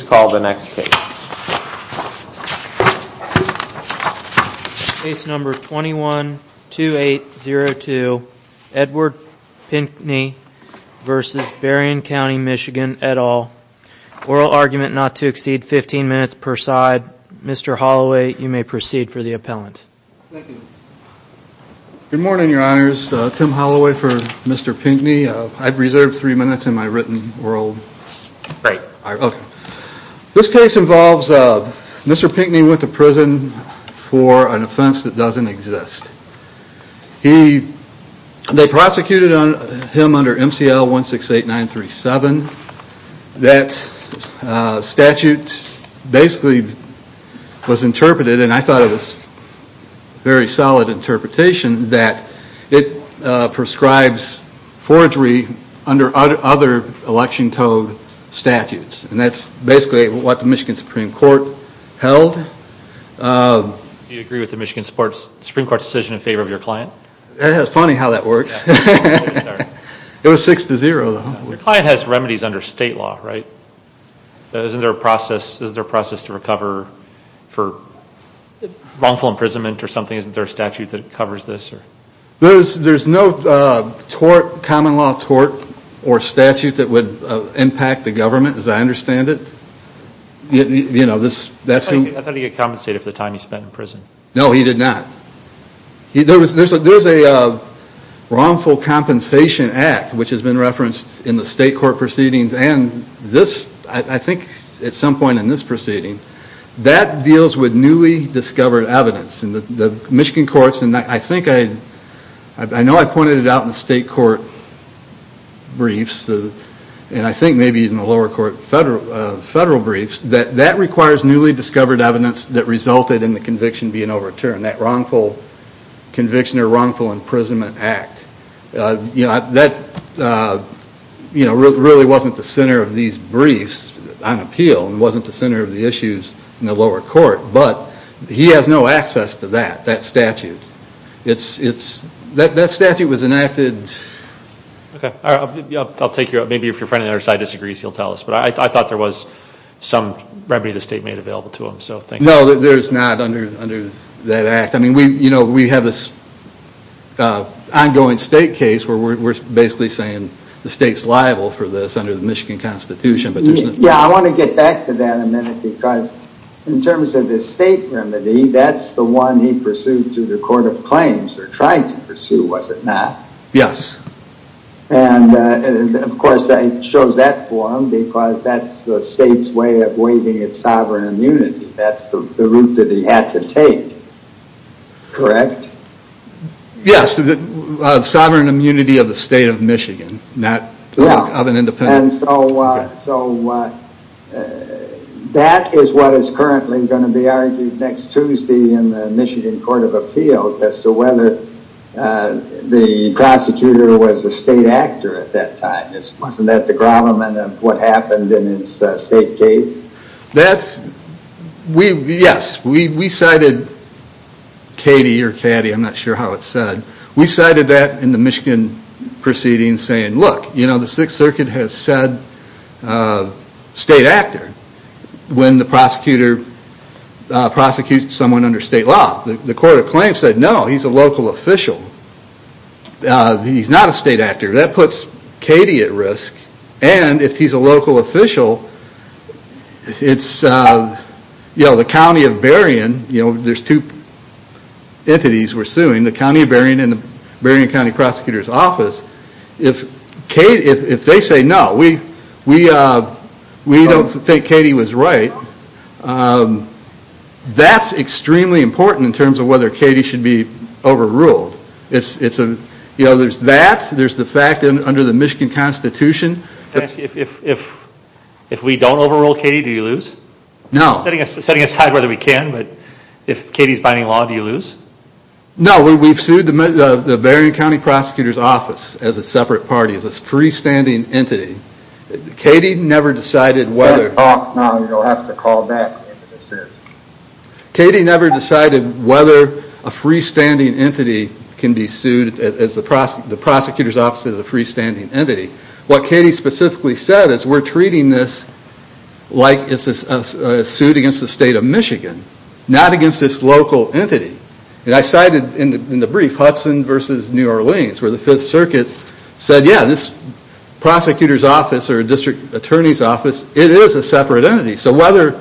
oral argument not to exceed 15 minutes per side. Mr. Holloway, you may proceed for the appellant. Good morning, your honors. Tim Holloway for Mr. Pinkney. I've reserved three minutes in my written world. This case involves Mr. Pinkney who went to prison for an offense that doesn't exist. They prosecuted him under MCL 168937. That statute basically was interpreted, and I thought it was a very solid interpretation, that it prescribes forgery under other election code statutes. And that's basically what the Michigan Supreme Court held. Do you agree with the Michigan Supreme Court's decision in favor of your client? It's funny how that works. It was 6-0. Your client has remedies under state law, right? Isn't there a process to recover for wrongful imprisonment or something? Isn't there a statute that covers this? There's no common law tort or statute that would impact the government as I understand it. I thought he got compensated for the time he spent in prison. No, he did not. There's a wrongful compensation act which has been referenced in the state court proceedings and I think at some point in this proceeding. That deals with newly discovered evidence. The Michigan courts, and I know I pointed it out in the state court briefs, and I think maybe in the lower court federal briefs, that requires newly discovered evidence that resulted in the conviction being overturned. That wrongful conviction or wrongful imprisonment act. That really wasn't the center of these briefs on appeal. It wasn't the center of the issues in the lower court. But he has no access to that, that statute. That statute was enacted. Okay, I'll take your, maybe if your friend on the other side disagrees he'll tell us. But I thought there was some remedy to state made available to him. No, there's not under that act. I mean we have this ongoing state case where we're basically saying the state's liable for this under the Michigan constitution. Yeah, I want to get back to that in a minute because in terms of the state remedy, that's the one he pursued through the court of claims, or tried to pursue was it not? Yes. And of course it shows that for him because that's the state's way of waiving its sovereign immunity. That's the route that he had to take. Correct? Yes, the sovereign immunity of the state of Michigan, not of an independent. And so that is what is currently going to be argued next Tuesday in the Michigan Court of Appeals as to whether the prosecutor was a state actor at that time. Wasn't that the grommet of what happened in his state case? Yes, we cited Katie or Caddy, I'm not sure how it's said. We cited that in the Michigan proceedings saying look, you know the 6th Circuit has said state actor when the prosecutor prosecuted someone under state law. The court of claims said no, he's a local official. He's not a state actor. That puts Katie at risk and if he's a local official, it's the county of Berrien, there's two entities we're suing, the county of Berrien and the Berrien County Prosecutor's Office. If they say no, we don't think Katie was right, that's extremely important in terms of whether Katie should be overruled. There's that, there's the fact that under the Michigan Constitution. If we don't overrule Katie, do you lose? No. Setting aside whether we can, but if Katie is binding law, do you lose? No, we've sued the Berrien County Prosecutor's Office as a separate party, as a freestanding entity. Katie never decided whether. You don't have to call back if it's sued. Katie never decided whether a freestanding entity can be sued, the prosecutor's office as a freestanding entity. What Katie specifically said is we're treating this like it's a suit against the state of Michigan, not against this local entity. I cited in the brief Hudson versus New Orleans where the 5th Circuit said yeah, this prosecutor's office or district attorney's office, it is a separate entity. So whether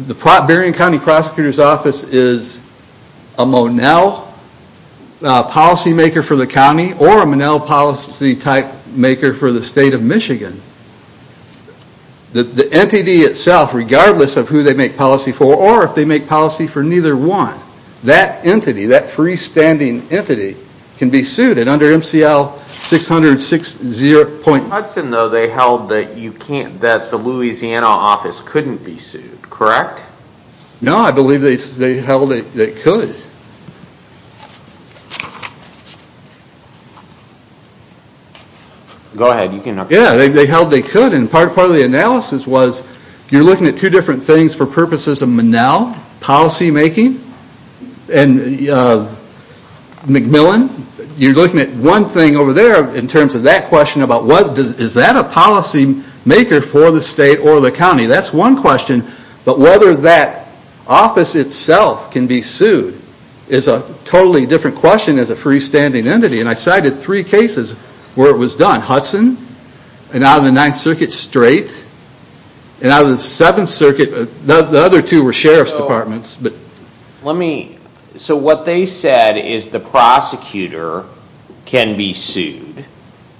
the Berrien County Prosecutor's Office is a Monell policy maker for the county or a Monell policy type maker for the state of Michigan, the entity itself regardless of who they make policy for or if they make policy for neither one, that entity, that freestanding entity, can be sued under MCL-600-6-0. Hudson though, they held that the Louisiana office couldn't be sued, correct? No, I believe they held that they could. Go ahead, you can... Yeah, they held they could and part of the analysis was you're looking at two different things for purposes of Monell, policy making, and McMillan, you're looking at one thing over there in terms of that question about is that a policy maker for the state or the county. That's one question, but whether that office itself can be sued is a totally different question as a freestanding entity. And I cited three cases where it was done, Hudson, and out of the 9th Circuit, Strait, and out of the 7th Circuit, the other two were Sheriff's Departments. So what they said is the prosecutor can be sued.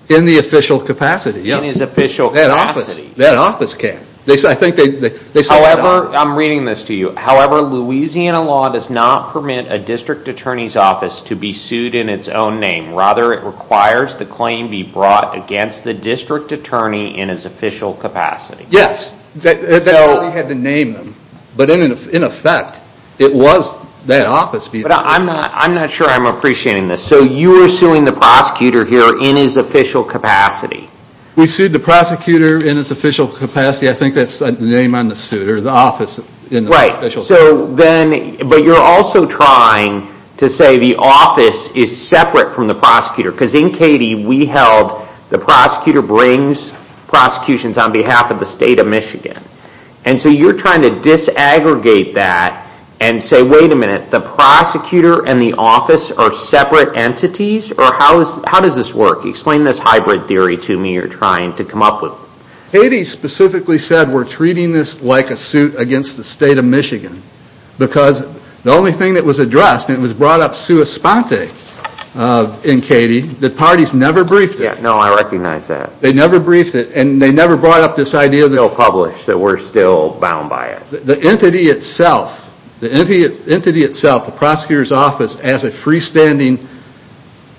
In the official capacity, yes. In his official capacity. That office can. However, I'm reading this to you. However, Louisiana law does not permit a district attorney's office to be sued in its own name. Rather, it requires the claim be brought against the district attorney in his official capacity. Yes, they had to name them, but in effect, it was that office. But I'm not sure I'm appreciating this. So you are suing the prosecutor here in his official capacity? We sued the prosecutor in his official capacity. I think that's the name on the suit, or the office in the official capacity. But you're also trying to say the office is separate from the prosecutor. Because in Cady, we held the prosecutor brings prosecutions on behalf of the state of Michigan. And so you're trying to disaggregate that and say, wait a minute. The prosecutor and the office are separate entities? Or how does this work? Explain this hybrid theory to me you're trying to come up with. Cady specifically said we're treating this like a suit against the state of Michigan. Because the only thing that was addressed, and it was brought up sua sponte in Cady, the parties never briefed it. No, I recognize that. They never briefed it, and they never brought up this idea. They'll publish that we're still bound by it. The entity itself, the entity itself, the prosecutor's office as a freestanding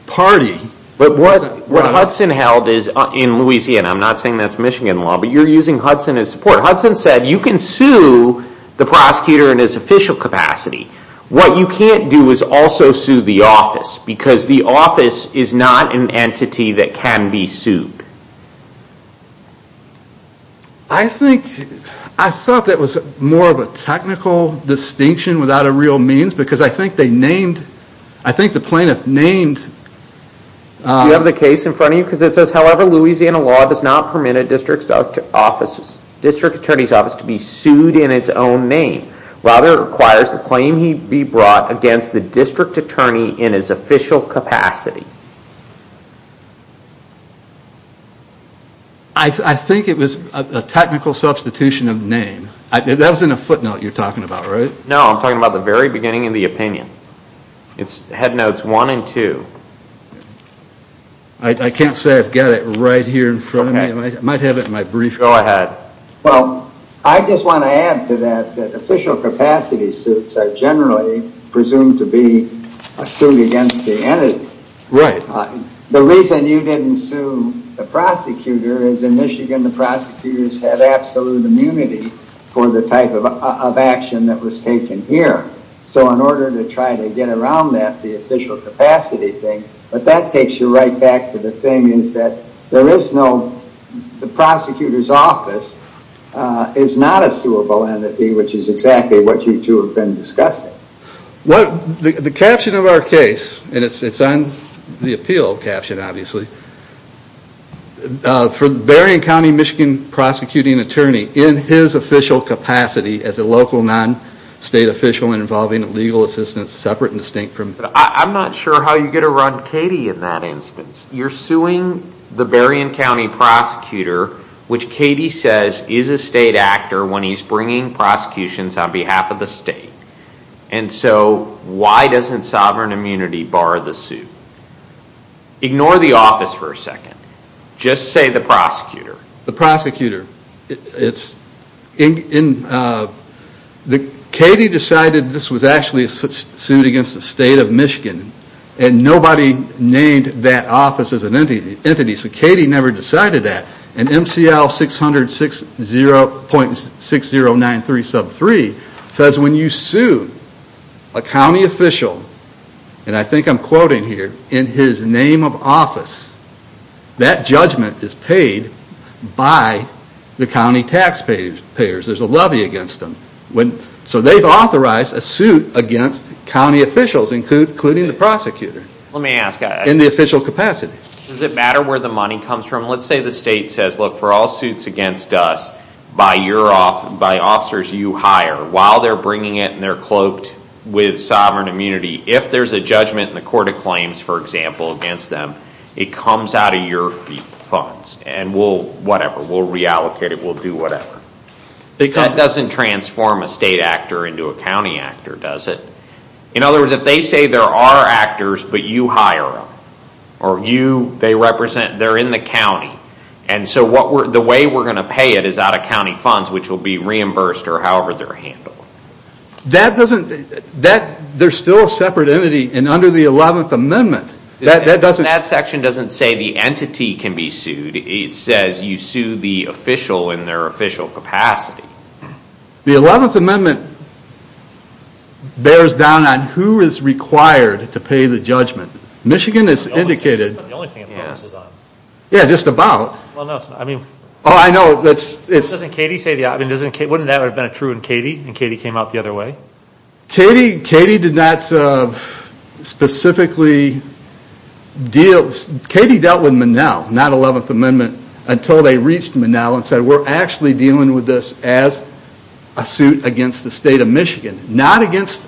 party. But what Hudson held is in Louisiana. I'm not saying that's Michigan law. But you're using Hudson as support. Hudson said you can sue the prosecutor in his official capacity. What you can't do is also sue the office. Because the office is not an entity that can be sued. I thought that was more of a technical distinction without a real means. Because I think they named, I think the plaintiff named. Do you have the case in front of you? However, Louisiana law does not permit a district attorney's office to be sued in its own name. Rather, it requires the claim be brought against the district attorney in his official capacity. I think it was a technical substitution of name. That wasn't a footnote you're talking about, right? No, I'm talking about the very beginning of the opinion. It's headnotes one and two. I can't say I've got it right here in front of me. I might have it in my brief. Go ahead. Well, I just want to add to that that official capacity suits are generally presumed to be a suit against the entity. Right. The reason you didn't sue the prosecutor is in Michigan, the prosecutors had absolute immunity for the type of action that was taken here. So in order to try to get around that, the official capacity, but that takes you right back to the thing is that the prosecutor's office is not a suable entity, which is exactly what you two have been discussing. The caption of our case, and it's on the appeal caption, obviously, for the Berrien County, Michigan prosecuting attorney in his official capacity as a local non-state official involving legal assistance separate and distinct from... I'm not sure how you're going to run Katie in that instance. You're suing the Berrien County prosecutor, which Katie says is a state actor when he's bringing prosecutions on behalf of the state. And so why doesn't sovereign immunity bar the suit? Ignore the office for a second. Just say the prosecutor. The prosecutor. It's... Katie decided this was actually a suit against the state of Michigan, and nobody named that office as an entity, so Katie never decided that. And MCL 60060.6093 sub 3 says when you sue a county official, and I think I'm quoting here, in his name of office, that judgment is paid by the county taxpayers. There's a levy against them. So they've authorized a suit against county officials, including the prosecutor. Let me ask... In the official capacity. Does it matter where the money comes from? Let's say the state says, look, for all suits against us by officers you hire, while they're bringing it and they're cloaked with sovereign immunity, if there's a judgment in the court of claims, for example, against them, it comes out of your funds, and we'll, whatever, we'll reallocate it, we'll do whatever. That doesn't transform a state actor into a county actor, does it? In other words, if they say there are actors, but you hire them, or you, they represent, they're in the county, and so the way we're going to pay it is out of county funds, which will be reimbursed, or however they're handled. That doesn't... They're still a separate entity, and under the 11th Amendment, that doesn't... Section doesn't say the entity can be sued. It says you sue the official in their official capacity. The 11th Amendment bears down on who is required to pay the judgment. Michigan is indicated... That's not the only thing it focuses on. Yeah, just about. Well, no, it's not. I mean... Oh, I know, it's... Doesn't Katie say the... Wouldn't that have been true in Katie, and Katie came out the other way? Katie did not specifically deal... Katie dealt with Monell, not 11th Amendment, until they reached Monell and said, we're actually dealing with this as a suit against the state of Michigan, not against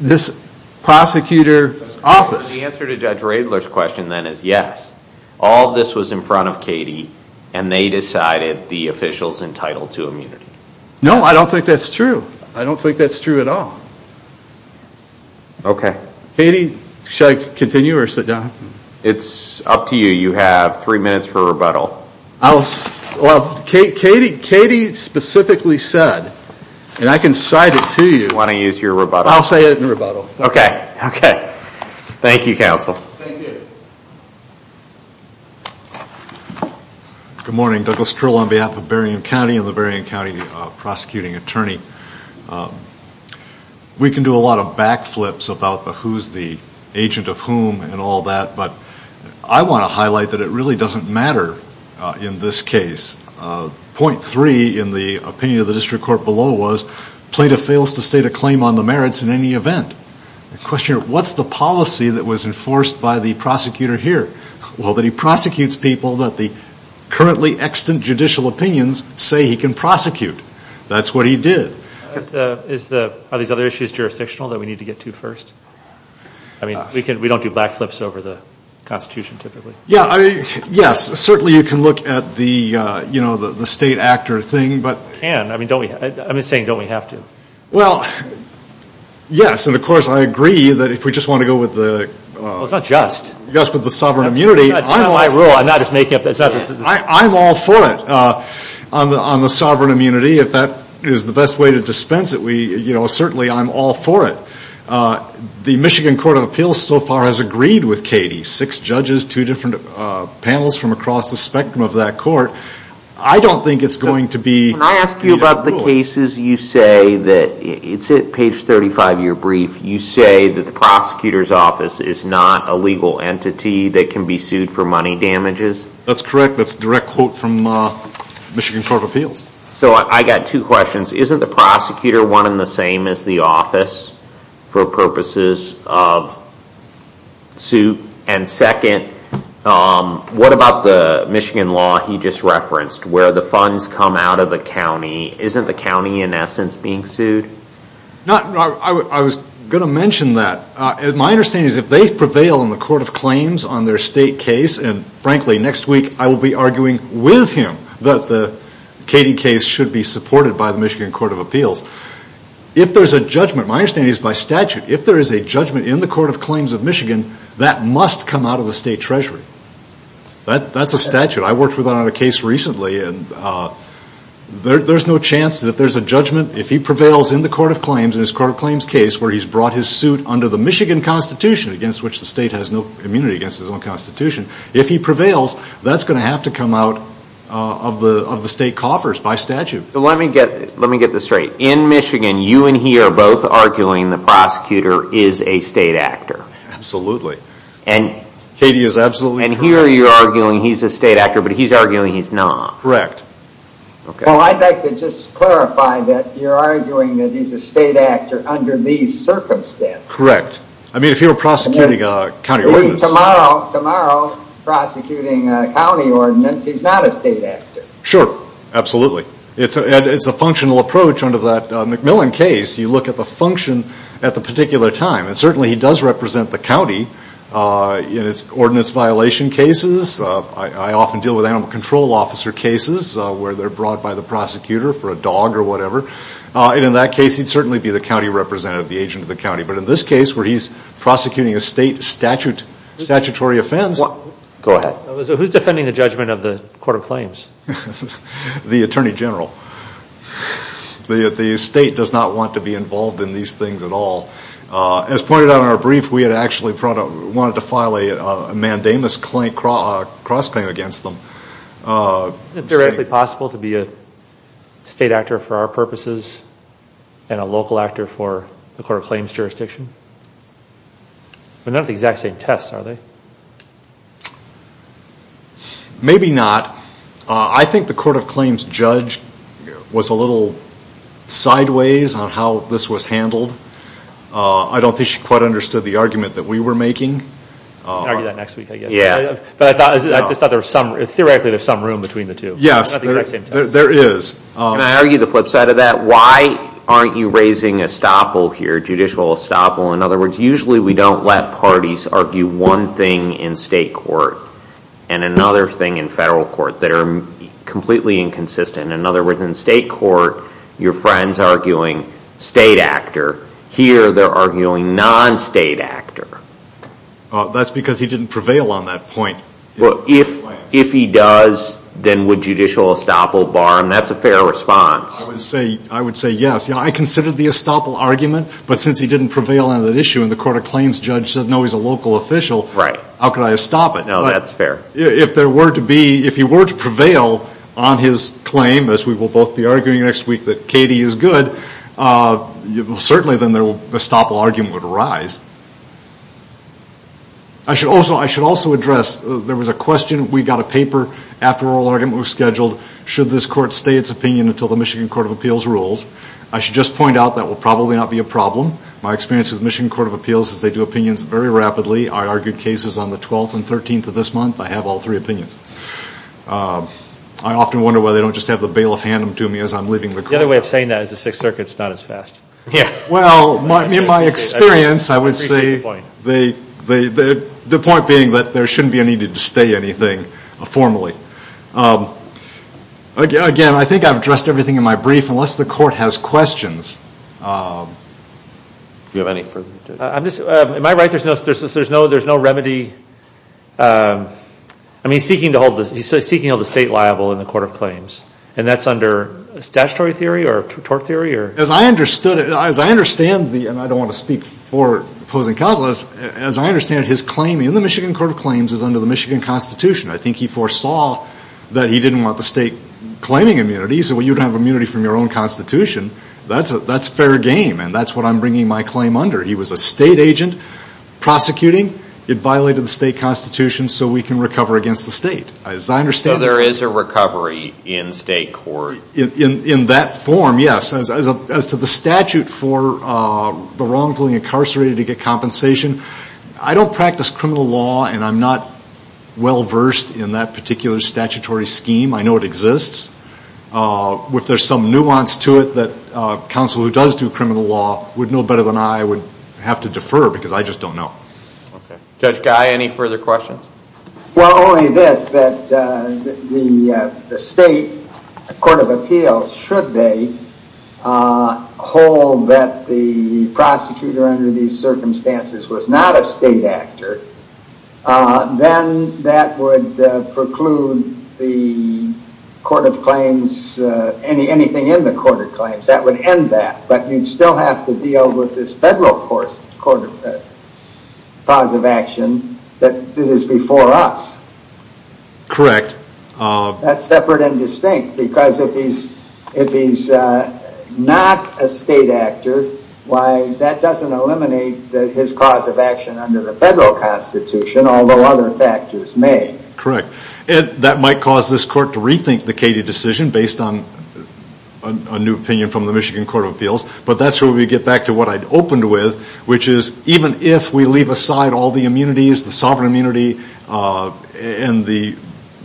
this prosecutor office. The answer to Judge Radler's question then is, yes, all this was in front of Katie, and they decided the official's entitled to immunity. No, I don't think that's true. I don't think that's true at all. Okay. Katie, should I continue or sit down? It's up to you. You have three minutes for rebuttal. Well, Katie specifically said, and I can cite it to you... Why don't you use your rebuttal? I'll say it in rebuttal. Okay, okay. Thank you, counsel. Thank you. Good morning. Douglas Trill on behalf of Berrien County and the Berrien County prosecuting attorney. We can do a lot of backflips about the who's the agent of whom and all that, but I want to highlight that it really doesn't matter in this case. Point three in the opinion of the district court below was, plaintiff fails to state a claim on the merits in any event. The question, what's the policy that was enforced by the prosecutor here? Well, that he prosecutes people that the currently extant judicial opinions say he can prosecute. That's what he did. Are these other issues jurisdictional that we need to get to first? I mean, we don't do backflips over the constitution typically. Yeah, yes. Certainly, you can look at the state actor thing, but... Can, I mean, I'm just saying, don't we have to? Well, yes. And of course, I agree that if we just want to go with the... Well, it's not just. Yes, but the sovereign immunity, I'm all for it on the sovereign immunity. If that is the best way to dispense it, certainly I'm all for it. The Michigan Court of Appeals so far has agreed with Katie, six judges, two different panels from across the spectrum of that court. I don't think it's going to be... When I ask you about the cases, you say that, it's at page 35 of your brief, you say that the prosecutor's office is not a legal entity that can be sued for money damages? That's correct. That's a direct quote from Michigan Court of Appeals. So I got two questions. Isn't the prosecutor one and the same as the office for purposes of suit? And second, what about the Michigan law he just referenced, where the funds come out of the county? Isn't the county in essence being sued? No, I was going to mention that. My understanding is if they prevail in the court of claims on their state case, and frankly next week I will be arguing with him that the Katie case should be supported by the Michigan Court of Appeals. If there's a judgment, my understanding is by statute, if there is a judgment in the court of claims of Michigan, that must come out of the state treasury. That's a statute. If he prevails in the court of claims, in his court of claims case, where he's brought his suit under the Michigan Constitution, against which the state has no immunity against his own constitution, if he prevails, that's going to have to come out of the state coffers by statute. So let me get this straight. In Michigan, you and he are both arguing the prosecutor is a state actor? Absolutely. And here you're arguing he's a state actor, but he's arguing he's not? Correct. Well, I'd like to just clarify that you're arguing that he's a state actor under these circumstances. Correct. I mean, if you were prosecuting a county ordinance... He's tomorrow prosecuting a county ordinance. He's not a state actor. Sure. Absolutely. It's a functional approach under that McMillan case. You look at the function at the particular time, and certainly he does represent the county in its ordinance violation cases. I often deal with animal control officer cases. They're brought by the prosecutor for a dog or whatever. In that case, he'd certainly be the county representative, the agent of the county. But in this case, where he's prosecuting a state statutory offense... Go ahead. Who's defending the judgment of the court of claims? The attorney general. The state does not want to be involved in these things at all. As pointed out in our brief, we had actually wanted to file a mandamus cross-claim against them. Is it theoretically possible to be a state actor for our purposes and a local actor for the court of claims jurisdiction? But not the exact same tests, are they? Maybe not. I think the court of claims judge was a little sideways on how this was handled. I don't think she quite understood the argument that we were making. We can argue that next week, I guess. Yeah. I just thought there was some... Theoretically, there's some room between the two. Yes, there is. Can I argue the flip side of that? Why aren't you raising estoppel here, judicial estoppel? In other words, usually we don't let parties argue one thing in state court and another thing in federal court that are completely inconsistent. In other words, in state court, your friend's arguing state actor. Here, they're arguing non-state actor. Well, that's because he didn't prevail on that point. Well, if he does, then would judicial estoppel bar him? That's a fair response. I would say yes. I considered the estoppel argument, but since he didn't prevail on that issue and the court of claims judge said, no, he's a local official. Right. How could I stop it? No, that's fair. If there were to be, if he were to prevail on his claim, as we will both be arguing next week that Katie is good, certainly then the estoppel argument would arise. I should also address, there was a question, we got a paper after oral argument was scheduled. Should this court stay its opinion until the Michigan Court of Appeals rules? I should just point out that will probably not be a problem. My experience with Michigan Court of Appeals is they do opinions very rapidly. I argued cases on the 12th and 13th of this month. I have all three opinions. I often wonder why they don't just have the bailiff hand them to me as I'm leaving the court. The other way of saying that is the Sixth Circuit's not as fast. Yeah. In my experience, I would say the point being that there shouldn't be a need to stay anything formally. Again, I think I've addressed everything in my brief, unless the court has questions. Do you have any? Am I right? There's no remedy? I mean, he's seeking to hold the state liable in the Court of Claims, and that's under statutory theory or tort theory or? As I understand, and I don't want to speak for opposing causes, as I understand it, his claim in the Michigan Court of Claims is under the Michigan Constitution. I think he foresaw that he didn't want the state claiming immunity, so you'd have immunity from your own constitution. That's fair game, and that's what I'm bringing my claim under. He was a state agent prosecuting. It violated the state constitution, so we can recover against the state, as I understand it. There is a recovery in state court. In that form, yes, as to the statute for the wrongfully incarcerated to get compensation, I don't practice criminal law, and I'm not well-versed in that particular statutory scheme. I know it exists. If there's some nuance to it that counsel who does do criminal law would know better than I would have to defer, because I just don't know. Judge Guy, any further questions? Well, only this, that the state court of appeals, should they hold that the prosecutor under these circumstances was not a state actor, then that would preclude the court of claims, anything in the court of claims. That would end that, but you'd still have to deal with this federal court of positive action that is before us. Correct. That's separate and distinct, because if he's not a state actor, that doesn't eliminate his cause of action under the federal constitution, although other factors may. Correct. That might cause this court to rethink the Cady decision based on a new opinion from the Michigan court of appeals, but that's where we get back to what I'd opened with, which is even if we leave aside all the immunities, the sovereign immunity and the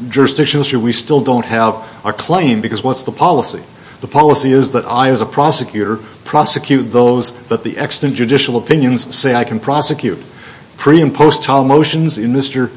jurisdiction issue, we still don't have a claim, because what's the policy? The policy is that I, as a prosecutor, prosecute those that the extant judicial opinions say I can prosecute. Pre- and post-trial motions in Mr.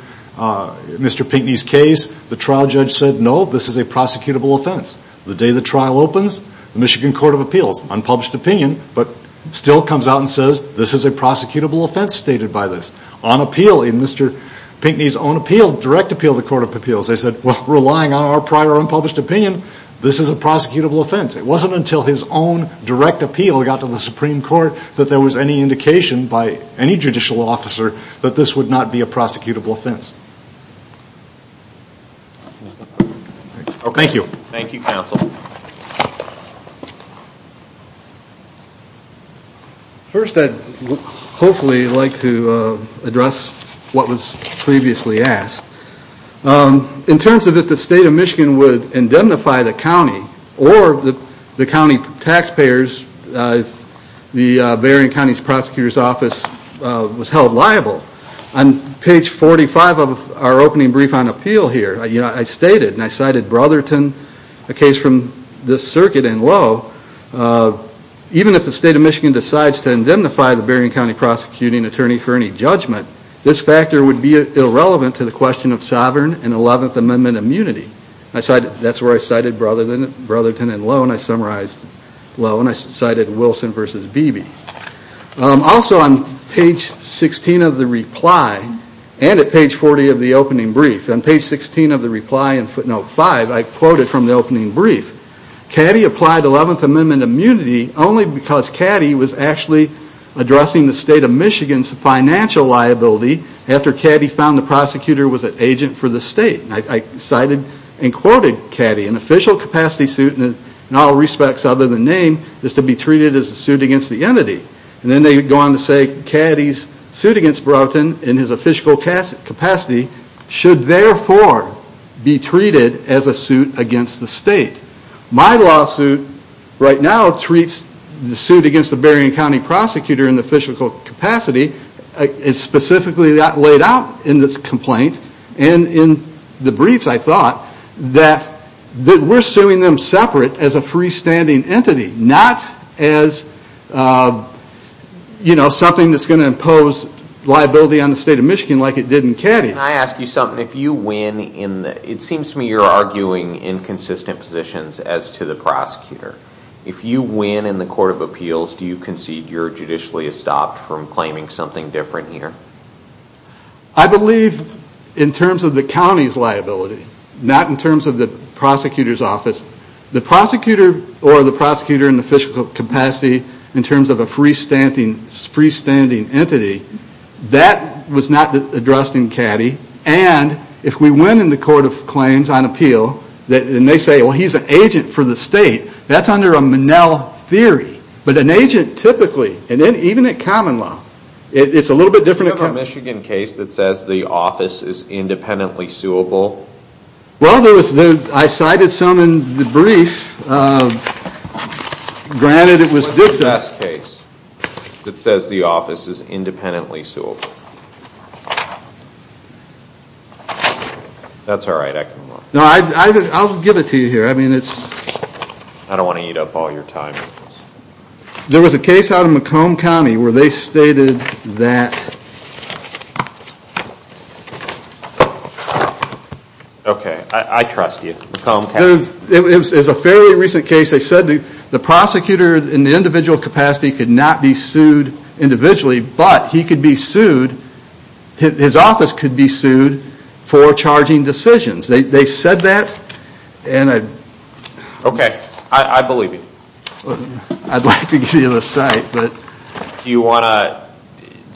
Pinckney's case, the trial judge said, no, this is a prosecutable offense. The day the trial opens, the Michigan court of appeals, unpublished opinion, but still comes out and says, this is a prosecutable offense stated by this. On appeal, in Mr. Pinckney's own appeal, direct appeal to the court of appeals, they said, well, relying on our prior unpublished opinion, this is a prosecutable offense. It wasn't until his own direct appeal got to the Supreme Court that there was any indication by any judicial officer that this would not be a prosecutable offense. Thank you. Thank you, counsel. First, I'd hopefully like to address what was previously asked. In terms of if the state of Michigan would indemnify the county or the county taxpayers, the Bering County Prosecutor's Office was held liable. On page 45 of our opening brief on appeal here, I stated, and I cited Brotherton, a case from this circuit in Lowe, that even if the state of Michigan decides to indemnify the Bering County Prosecuting Attorney for any judgment, this factor would be irrelevant to the question of sovereign and 11th Amendment immunity. That's where I cited Brotherton and Lowe, and I summarized Lowe, and I cited Wilson v. Beebe. Also, on page 16 of the reply, and at page 40 of the opening brief, on page 16 of the reply in footnote 5, I quoted from the opening brief, Caddy applied 11th Amendment immunity only because Caddy was actually addressing the state of Michigan's financial liability after Caddy found the prosecutor was an agent for the state. I cited and quoted Caddy. An official capacity suit, in all respects other than name, is to be treated as a suit against the entity. Then they go on to say Caddy's suit against Brotherton in his official capacity should therefore be treated as a suit against the state. My lawsuit right now treats the suit against the Bering County Prosecutor in the official capacity. It's specifically laid out in this complaint and in the briefs, I thought, that we're suing them separate as a freestanding entity, not as something that's going to impose liability on the state of Michigan like it did in Caddy. Can I ask you something? It seems to me you're arguing inconsistent positions as to the prosecutor. If you win in the court of appeals, do you concede you're judicially estopped from claiming something different here? I believe in terms of the county's liability, not in terms of the prosecutor's office. The prosecutor or the prosecutor in the official capacity, in terms of a freestanding entity, that was not addressed in Caddy. If we win in the court of claims on appeal and they say, well, he's an agent for the state, that's under a Monell theory. But an agent typically, even at common law, it's a little bit different. Do you have a Michigan case that says the office is independently suable? Well, I cited some in the brief. What's the last case that says the office is independently suable? That's all right, I can look. No, I'll give it to you here. I mean, it's... I don't want to eat up all your time. There was a case out of Macomb County where they stated that... Okay, I trust you. It was a fairly recent case. They said the prosecutor in the individual capacity could not be sued individually, but he could be sued, his office could be sued for charging decisions. They said that and I... Okay, I believe you. I'd like to give you the site, but... Do you want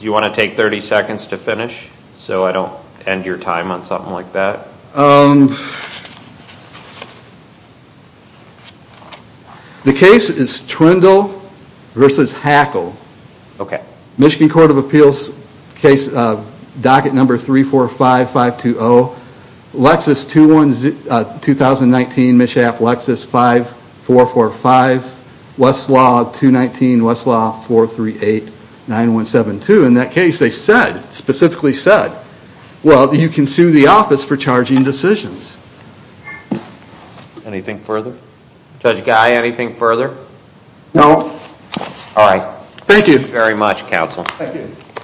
to take 30 seconds to finish so I don't end your time on something like that? The case is Trindle versus Hackle. Okay. Michigan Court of Appeals case docket number 345520, Lexus 2019, Mishap, Lexus 5445, Westlaw 219, Westlaw 4389172. In that case, they said, specifically said, well, you can sue the office for charging decisions. Anything further? Judge Guy, anything further? No. All right. Thank you. Very much, counsel. Thank you.